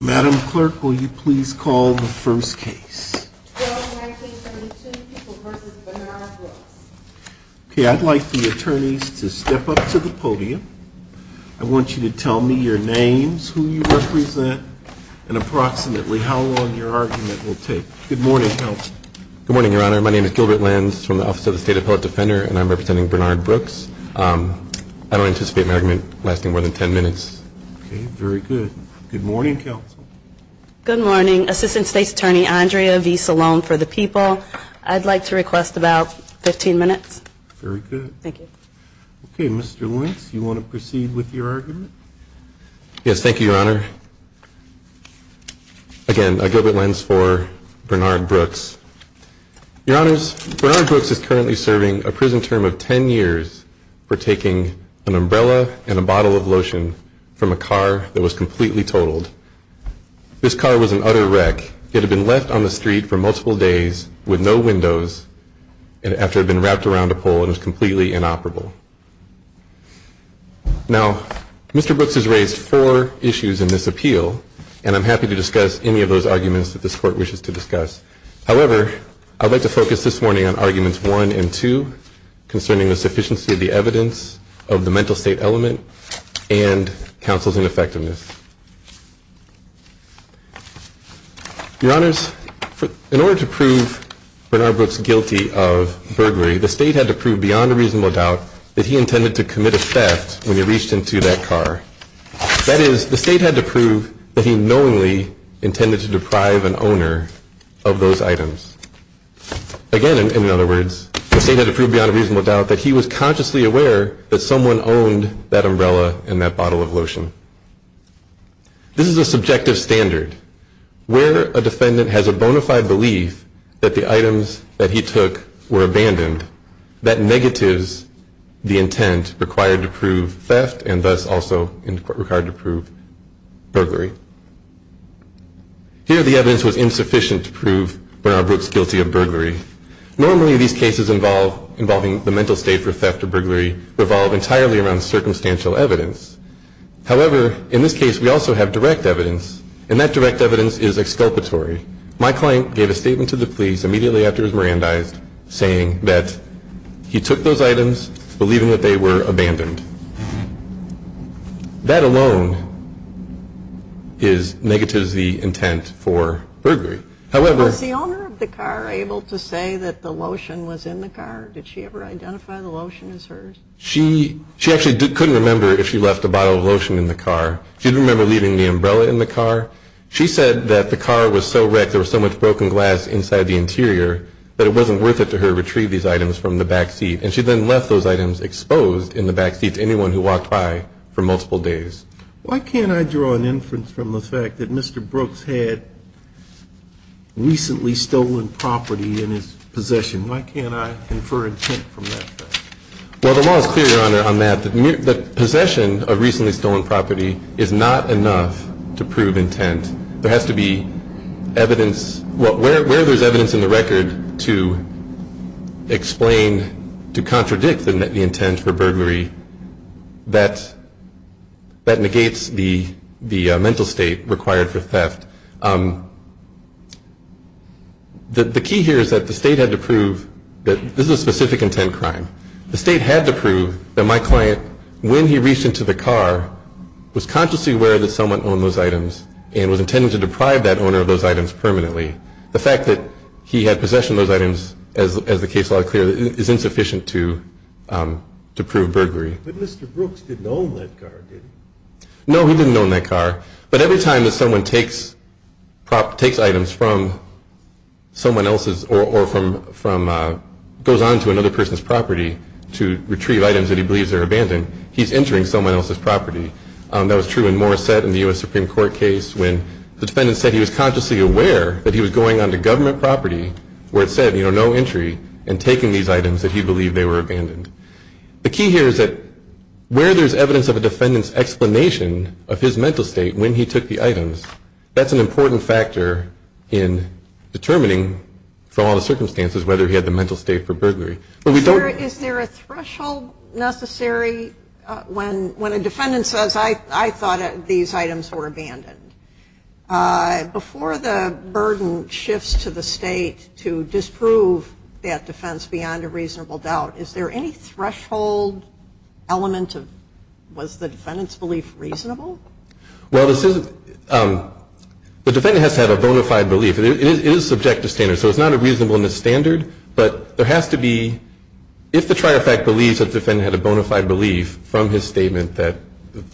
Madam Clerk, will you please call the first case? 12-19-72, Peoples v. Bernard Brooks. Okay, I'd like the attorneys to step up to the podium. I want you to tell me your names, who you represent, and approximately how long your argument will take. Good morning, Counsel. Good morning, Your Honor. My name is Gilbert Lenz from the Office of the State Appellate Defender, and I'm representing Bernard Brooks. I don't anticipate my argument lasting more than 10 minutes. Okay, very good. Good morning, Counsel. Good morning. Assistant State's Attorney Andrea v. Salone for the People. I'd like to request about 15 minutes. Very good. Thank you. Okay, Mr. Lenz, you want to proceed with your argument? Yes, thank you, Your Honor. Again, Gilbert Lenz for Bernard Brooks. Your Honors, Bernard Brooks is currently serving a prison term of 10 years for taking an umbrella and a bottle of lotion from a car that was completely totaled. This car was an utter wreck. It had been left on the street for multiple days with no windows after it had been wrapped around a pole and was completely inoperable. Now, Mr. Brooks has raised four issues in this appeal, and I'm happy to discuss any of those arguments that this Court wishes to discuss. However, I'd like to focus this morning on Arguments 1 and 2 concerning the sufficiency of the evidence of the mental state element and counsel's ineffectiveness. Your Honors, in order to prove Bernard Brooks guilty of burglary, the State had to prove beyond a reasonable doubt that he intended to commit a theft when he reached into that car. That is, the State had to prove that he knowingly intended to deprive an owner of those items. Again, in other words, the State had to prove beyond a reasonable doubt that he was consciously aware that someone owned that umbrella and that bottle of lotion. This is a subjective standard, where a defendant has a bona fide belief that the items that he took were abandoned, that negatives the intent required to prove theft and thus also required to prove burglary. Normally, these cases involving the mental state for theft or burglary revolve entirely around circumstantial evidence. However, in this case, we also have direct evidence, and that direct evidence is exculpatory. My client gave a statement to the police immediately after he was Mirandized saying that he took those items believing that they were abandoned. That alone is negatives the intent for burglary. However... Was the owner of the car able to say that the lotion was in the car? Did she ever identify the lotion as hers? She actually couldn't remember if she left a bottle of lotion in the car. She didn't remember leaving the umbrella in the car. She said that the car was so wrecked, there was so much broken glass inside the interior, that it wasn't worth it to her to retrieve these items from the back seat. And she then left those items exposed in the back seat to anyone who walked by for multiple days. Why can't I draw an inference from the fact that Mr. Brooks had recently stolen property in his possession? Why can't I infer intent from that? Well, the law is clear, Your Honor, on that. The possession of recently stolen property is not enough to prove intent. There has to be evidence... Well, where there's evidence in the record to explain, to contradict the intent for burglary, that negates the mental state required for theft. The key here is that the state had to prove that this is a specific intent crime. The state had to prove that my client, when he reached into the car, was consciously aware that someone owned those items and was intending to deprive that owner of those items permanently. The fact that he had possession of those items, as the case law is clear, is insufficient to prove burglary. But Mr. Brooks didn't own that car, did he? No, he didn't own that car. But every time that someone takes items from someone else's, or goes on to another person's property to retrieve items that he believes are abandoned, he's entering someone else's property. That was true in Morissette in the U.S. Supreme Court case when the defendant said he was consciously aware that he was going onto government property where it said, you know, no entry, and taking these items that he believed they were abandoned. The key here is that where there's evidence of a defendant's explanation of his mental state when he took the items, that's an important factor in determining from all the circumstances whether he had the mental state for burglary. But we don't... Is there a threshold necessary when a defendant says, I thought these items were abandoned? Before the burden shifts to the State to disprove that defense beyond a reasonable doubt, is there any threshold element of, was the defendant's belief reasonable? Well, the defendant has to have a bona fide belief. It is subject to standards. So it's not a reasonableness standard. But there has to be... If the trier of fact believes that the defendant had a bona fide belief from his statement that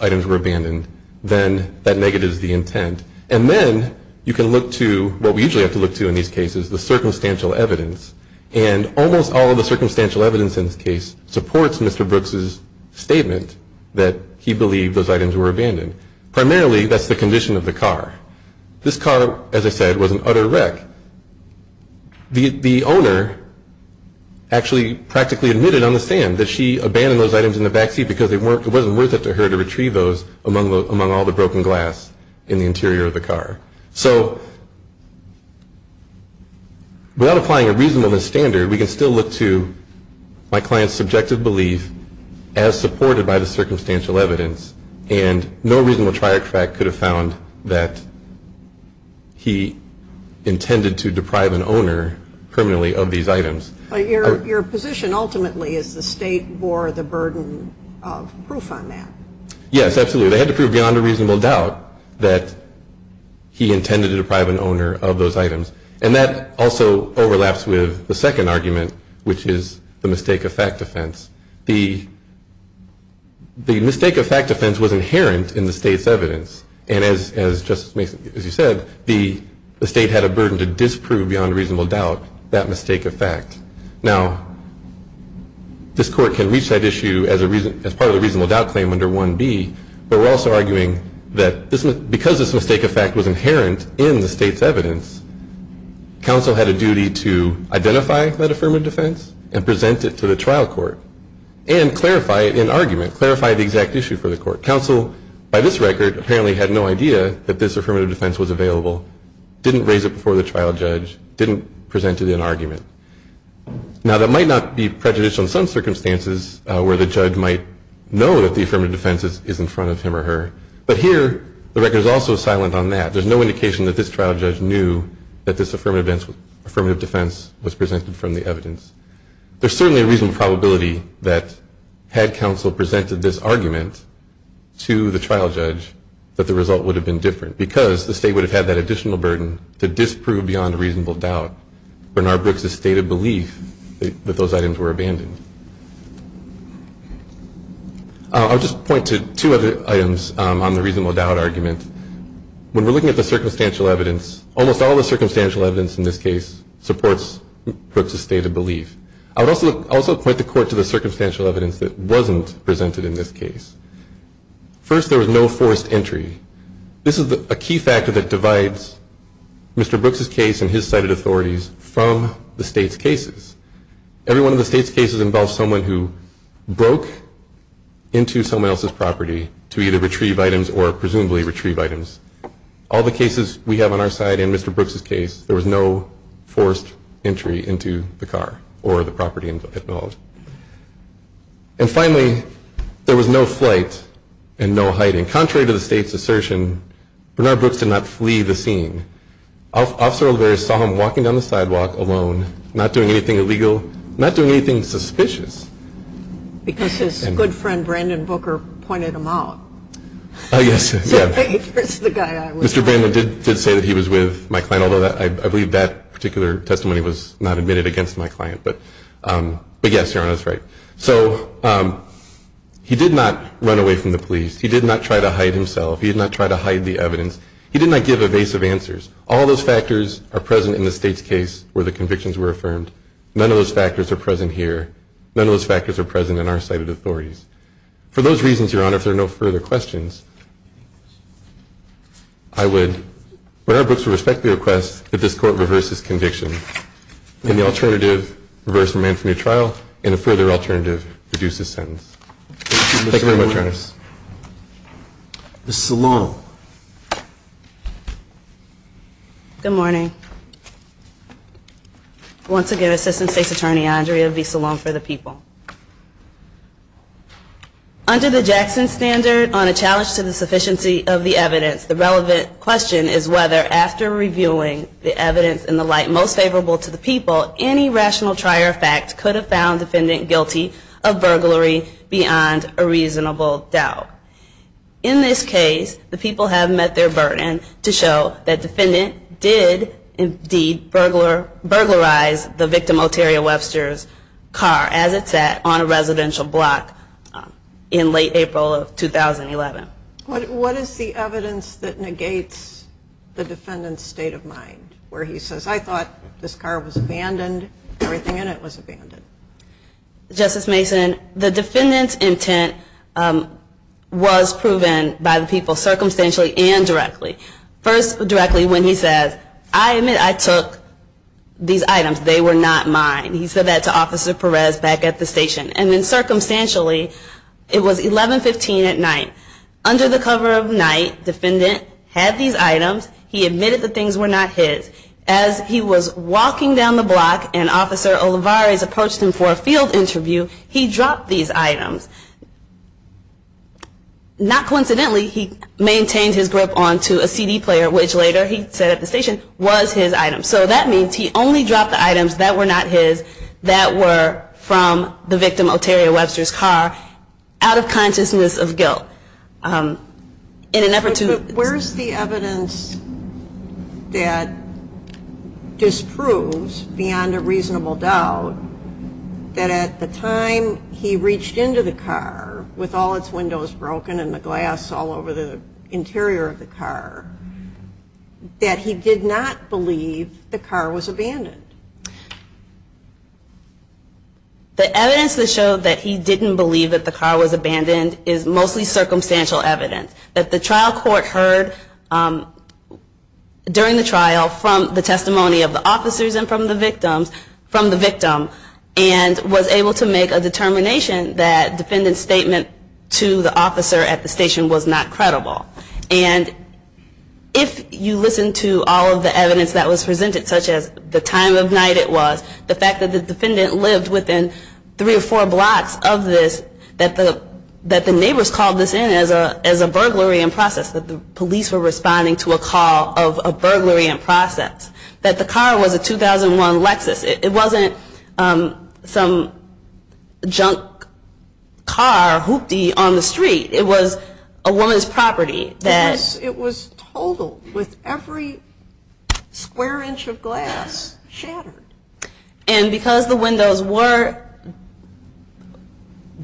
items were abandoned, then that negative is the intent. And then you can look to what we usually have to look to in these cases, the circumstantial evidence. And almost all of the circumstantial evidence in this case supports Mr. Brooks's statement that he believed those items were abandoned. Primarily, that's the condition of the car. This car, as I said, was an utter wreck. The owner actually practically admitted on the stand that she abandoned those items in the backseat because it wasn't worth it to her to retrieve those among all the broken glass in the interior of the car. So without applying a reasonableness standard, we can still look to my client's subjective belief as supported by the circumstantial evidence. And no reasonable trier of fact could have found that he intended to deprive an owner permanently of these items. But your position ultimately is the state bore the burden of proof on that. Yes, absolutely. They had to prove beyond a reasonable doubt that he intended to deprive an owner of those items. And that also overlaps with the second argument, which is the mistake of fact offense. The mistake of fact offense was inherent in the state's evidence. And as Justice Mason, as you said, the state had a burden to disprove beyond a reasonable doubt that mistake of fact. Now, this court can reach that issue as part of the reasonable doubt claim under 1B. But we're also arguing that because this mistake of fact was inherent in the state's evidence, counsel had a duty to identify that affirmative defense and present it to the trial court and clarify it in argument, clarify the exact issue for the court. Counsel, by this record, apparently had no idea that this affirmative defense was available, didn't raise it before the trial judge, didn't present it in argument. Now, that might not be prejudicial in some circumstances where the judge might know that the affirmative defense is in front of him or her. But here, the record is also silent on that. There's no indication that this trial judge knew that this affirmative defense was presented from the evidence. There's certainly a reasonable probability that had counsel presented this argument to the trial judge, that the result would have been different because the state would have had that additional burden to disprove beyond a reasonable doubt Bernard Brooks' state of belief that those items were abandoned. I'll just point to two other items on the reasonable doubt argument. When we're looking at the circumstantial evidence, almost all the circumstantial evidence in this case supports Brooks' state of belief. I would also point the court to the circumstantial evidence that wasn't presented in this case. First, there was no forced entry. This is a key factor that divides Mr. Brooks' case and his cited authorities from the state's cases. Every one of the state's cases involves someone who broke into someone else's property to either retrieve items or presumably retrieve items. All the cases we have on our side in Mr. Brooks' case, there was no forced entry into the car or the property involved. And finally, there was no flight and no hiding. Contrary to the state's assertion, Bernard Brooks did not flee the scene. Officer Olivares saw him walking down the sidewalk alone, not doing anything illegal, not doing anything suspicious. Because his good friend, Brandon Booker, pointed him out. Oh, yes. Mr. Brandon did say that he was with my client, although I believe that particular testimony was not admitted against my client. But yes, Your Honor, that's right. So he did not run away from the police. He did not try to hide himself. He did not try to hide the evidence. He did not give evasive answers. All those factors are present in the state's case where the convictions were affirmed. None of those factors are present here. None of those factors are present in our cited authorities. For those reasons, Your Honor, if there are no further questions, I would, Bernard Brooks would respect the request that this court reverse his conviction. And the alternative, reverse remand for new trial, and a further alternative, reduce his sentence. Thank you very much, Your Honors. Thank you, Mr. Salong. Ms. Salong. Good morning. Once again, Assistant State's Attorney Andrea V. Salong for the People. Under the Jackson Standard, on a challenge to the sufficiency of the evidence, the relevant question is whether after reviewing the evidence in the light most favorable to the people, any rational trier of facts could have found defendant guilty of burglary beyond a reasonable doubt. In this case, the people have met their burden to show that defendant did commit a crime. Indeed, burglarized the victim, Oteria Webster's car, as it sat on a residential block in late April of 2011. What is the evidence that negates the defendant's state of mind? Where he says, I thought this car was abandoned. Everything in it was abandoned. Justice Mason, the defendant's intent was proven by the people circumstantially and directly. First, directly when he says, I admit I took these items. They were not mine. He said that to Officer Perez back at the station. And then circumstantially, it was 11.15 at night. Under the cover of night, defendant had these items. He admitted the things were not his. As he was walking down the block and Officer Olivares approached him for a field interview, he dropped these items. Not coincidentally, he maintained his grip onto a CD player, which later, he said at the station, was his item. So that means he only dropped the items that were not his, that were from the victim, Oteria Webster's car, out of consciousness of guilt. In an effort to- Where's the evidence that disproves, beyond a reasonable doubt, that at the time he reached into the car with all its windows broken and the glass all over the interior of the car, that he did not believe the car was abandoned? The evidence that showed that he didn't believe that the car was abandoned is mostly circumstantial evidence. That the trial court heard during the trial from the testimony of the officers and from the victims, from the victim, and was able to make a determination that defendant's statement to the officer at the station was not credible. And if you listen to all of the evidence that was presented, such as the time of night it was, the fact that the defendant lived within three or four blocks of this, that the neighbors called this in as a burglary in process, that the police were responding to a call of a burglary in process, that the car was a 2001 Lexus. It wasn't some junk car hooptie on the street. It was a woman's property. Because it was totaled with every square inch of glass shattered. And because the windows were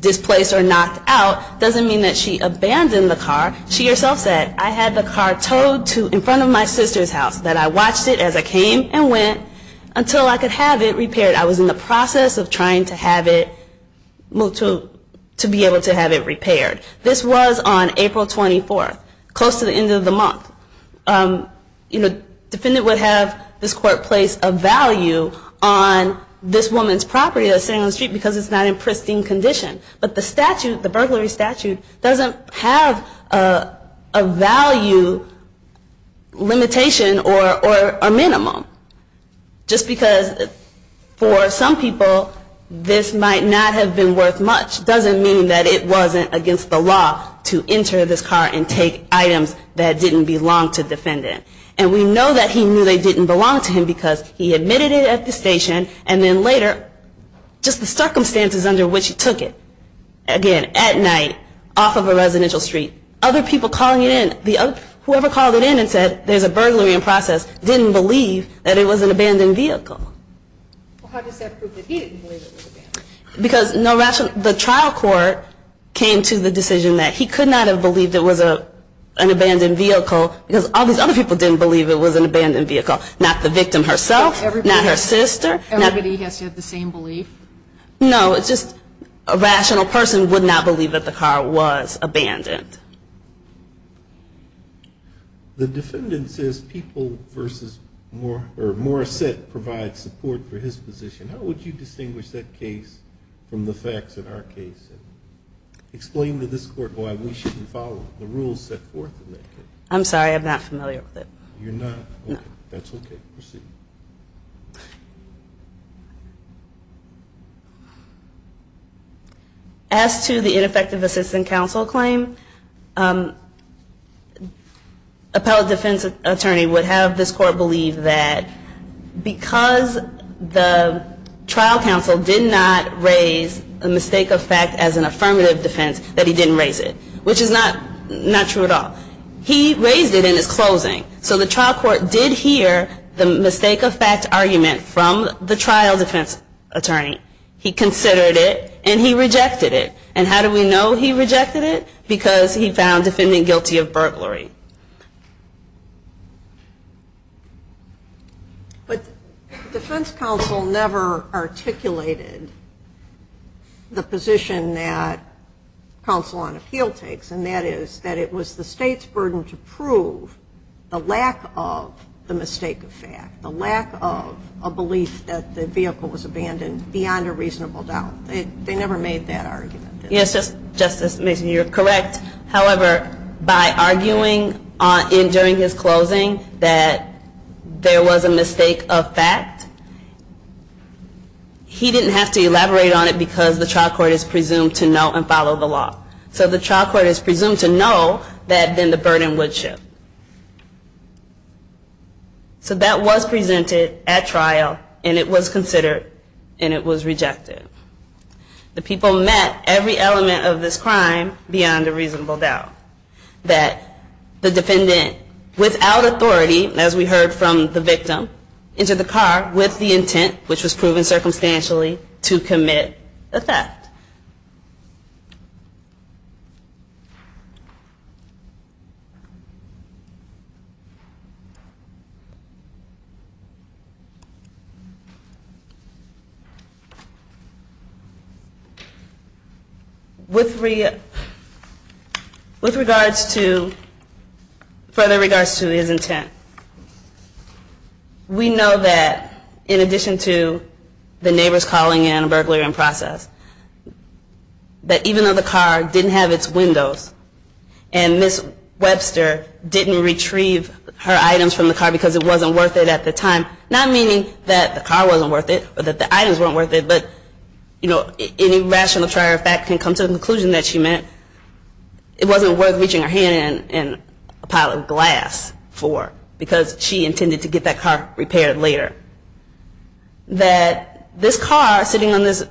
displaced or knocked out, doesn't mean that she abandoned the car. She herself said, I had the car towed to in front of my sister's house, that I watched it as I came and went until I could have it repaired. I was in the process of trying to have it moved to be able to have it repaired. This was on April 24, close to the end of the month. Defendant would have this court place a value on this woman's property that's sitting on the street because it's not in pristine condition. But the statute, the burglary statute, doesn't have a value limitation or a minimum. Just because for some people, this might not have been worth much, doesn't mean that it wasn't against the law to enter this car and take items that didn't belong to the defendant. And we know that he knew they didn't belong to him because he admitted it at the station. And then later, just the circumstances under which he took it, again, at night, off of a residential street. called it in and said, there's a burglary in process, didn't believe that it was an abandoned vehicle. Well, how does that prove that he didn't believe it was abandoned? Because the trial court came to the decision that he could not have believed it was an abandoned vehicle because all these other people didn't believe it was an abandoned vehicle. Not the victim herself, not her sister. Everybody has to have the same belief. No, it's just a rational person would not believe that the car was abandoned. The defendant says Peoples v. Morrissette provides support for his position. How would you distinguish that case from the facts of our case and explain to this court why we shouldn't follow the rules set forth in that case? I'm sorry, I'm not familiar with it. You're not? No. That's OK. Proceed. As to the ineffective assistant counsel claim, an appellate defense attorney would have this court believe that because the trial counsel did not raise a mistake of fact as an affirmative defense, that he didn't raise it, which is not true at all. He raised it in his closing. So the trial court did hear the mistake of fact argument from the trial defense attorney. He considered it, and he rejected it. And how do we know he rejected it? Because he found defendant guilty of burglary. But defense counsel never articulated the position that counsel on appeal takes. And that is that it was the state's burden to prove the lack of the mistake of fact, the lack of a belief that the vehicle was abandoned beyond a reasonable doubt. They never made that argument. Yes, Justice Mason, you're correct. However, by arguing during his closing that there was a mistake of fact, he didn't have to elaborate on it because the trial court is presumed to know and follow the law. So the trial court is presumed to know that then the burden would shift. So that was presented at trial, and it was considered, and it was rejected. The people met every element of this crime beyond a reasonable doubt. That the defendant, without authority, as we heard from the victim, entered the car with the intent, which was proven circumstantially, to commit a theft. With regards to, further regards to his intent, we know that in addition to the neighbor's calling and a burglary in process, that even though the car didn't have its windows, and Ms. Webster didn't retrieve her items from the car because it wasn't worth it at the time, not meaning that the car wasn't worth it or that the items weren't worth it, but any rational trier of fact can come to the conclusion that she meant it wasn't worth reaching her hand in a pile of glass for, because she intended to get that car repaired later. That this car, sitting on this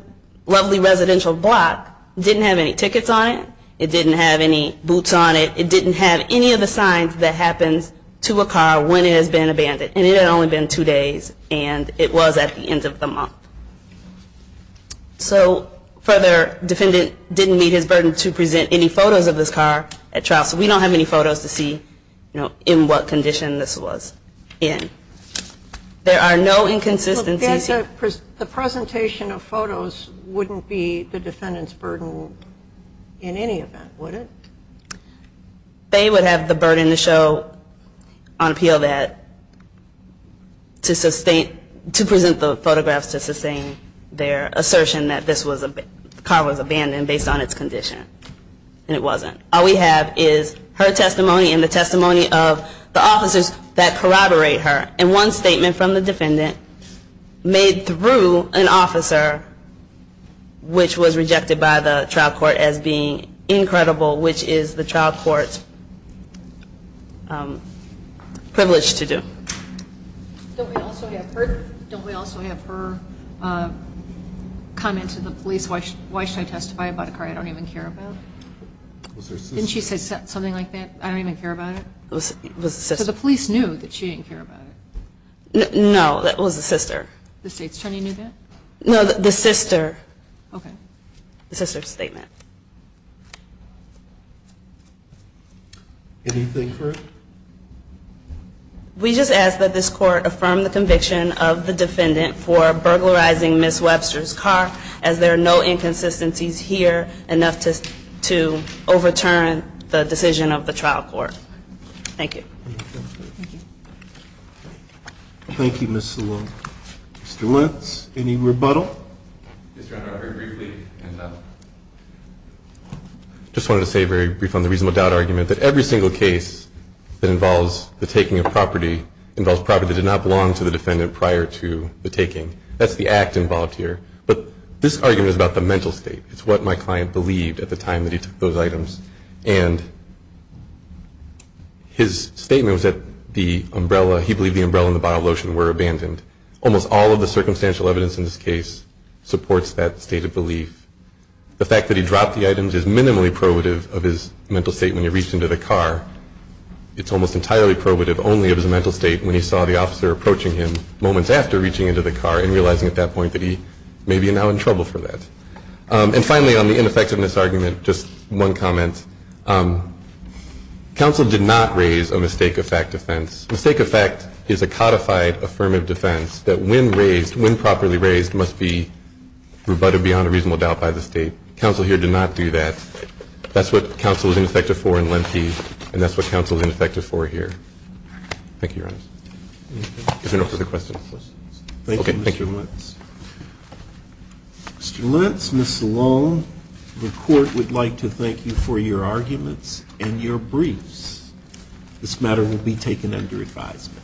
lovely residential block, didn't have any tickets on it. It didn't have any boots on it. It didn't have any of the signs that happens to a car when it has been abandoned. And it had only been two days, and it was at the end of the month. So further, defendant didn't meet his burden to present any photos of this car at trial. So we don't have any photos to see in what condition this was in. There are no inconsistencies. The presentation of photos wouldn't be the defendant's burden in any event, would it? They would have the burden to show on appeal that to present the photographs to sustain their assertion that the car was abandoned based on its condition. And it wasn't. All we have is her testimony and the testimony of the officers that corroborate her. And one statement from the defendant made through an officer, which was rejected by the trial court as being incredible, which is the trial court's privilege to do. Don't we also have her comment to the police? Why should I testify about a car I don't even care about? Didn't she say something like that? I don't even care about it? So the police knew that she didn't care about it. No, that was the sister. The state's attorney knew that? No, the sister. OK. The sister's statement. Anything for it? We just ask that this court affirm the conviction of the defendant for burglarizing Ms. Webster's car, as there are no inconsistencies here enough to overturn the decision of the trial court. Thank you. Thank you, Ms. Salone. Mr. Wentz, any rebuttal? Mr. Honor, I'll very briefly. And I just wanted to say, very brief on the reasonable doubt argument, that every single case that involves the taking of property involves property that did not belong to the defendant prior to the taking. That's the act involved here. But this argument is about the mental state. It's what my client believed at the time that he took those items. And his statement was that he believed the umbrella and the bottle of lotion were abandoned. Almost all of the circumstantial evidence in this case supports that state of belief. The fact that he dropped the items is minimally probative of his mental state when he reached into the car. It's almost entirely probative only of his mental state when he saw the officer approaching him moments after reaching into the car and realizing at that point that he may be now in trouble for that. And finally, on the ineffectiveness argument, just one comment. Counsel did not raise a mistake of fact defense. Mistake of fact is a codified affirmative defense that when raised, when properly raised, must be rebutted beyond a reasonable doubt by the state. Counsel here did not do that. That's what counsel is ineffective for in Lemke. And that's what counsel is ineffective for here. Thank you, Your Honor. If there are no further questions. Thank you, Mr. Lentz. Mr. Lentz, Ms. Salone, the court would like to thank you for your arguments and your briefs. This matter will be taken under advisement.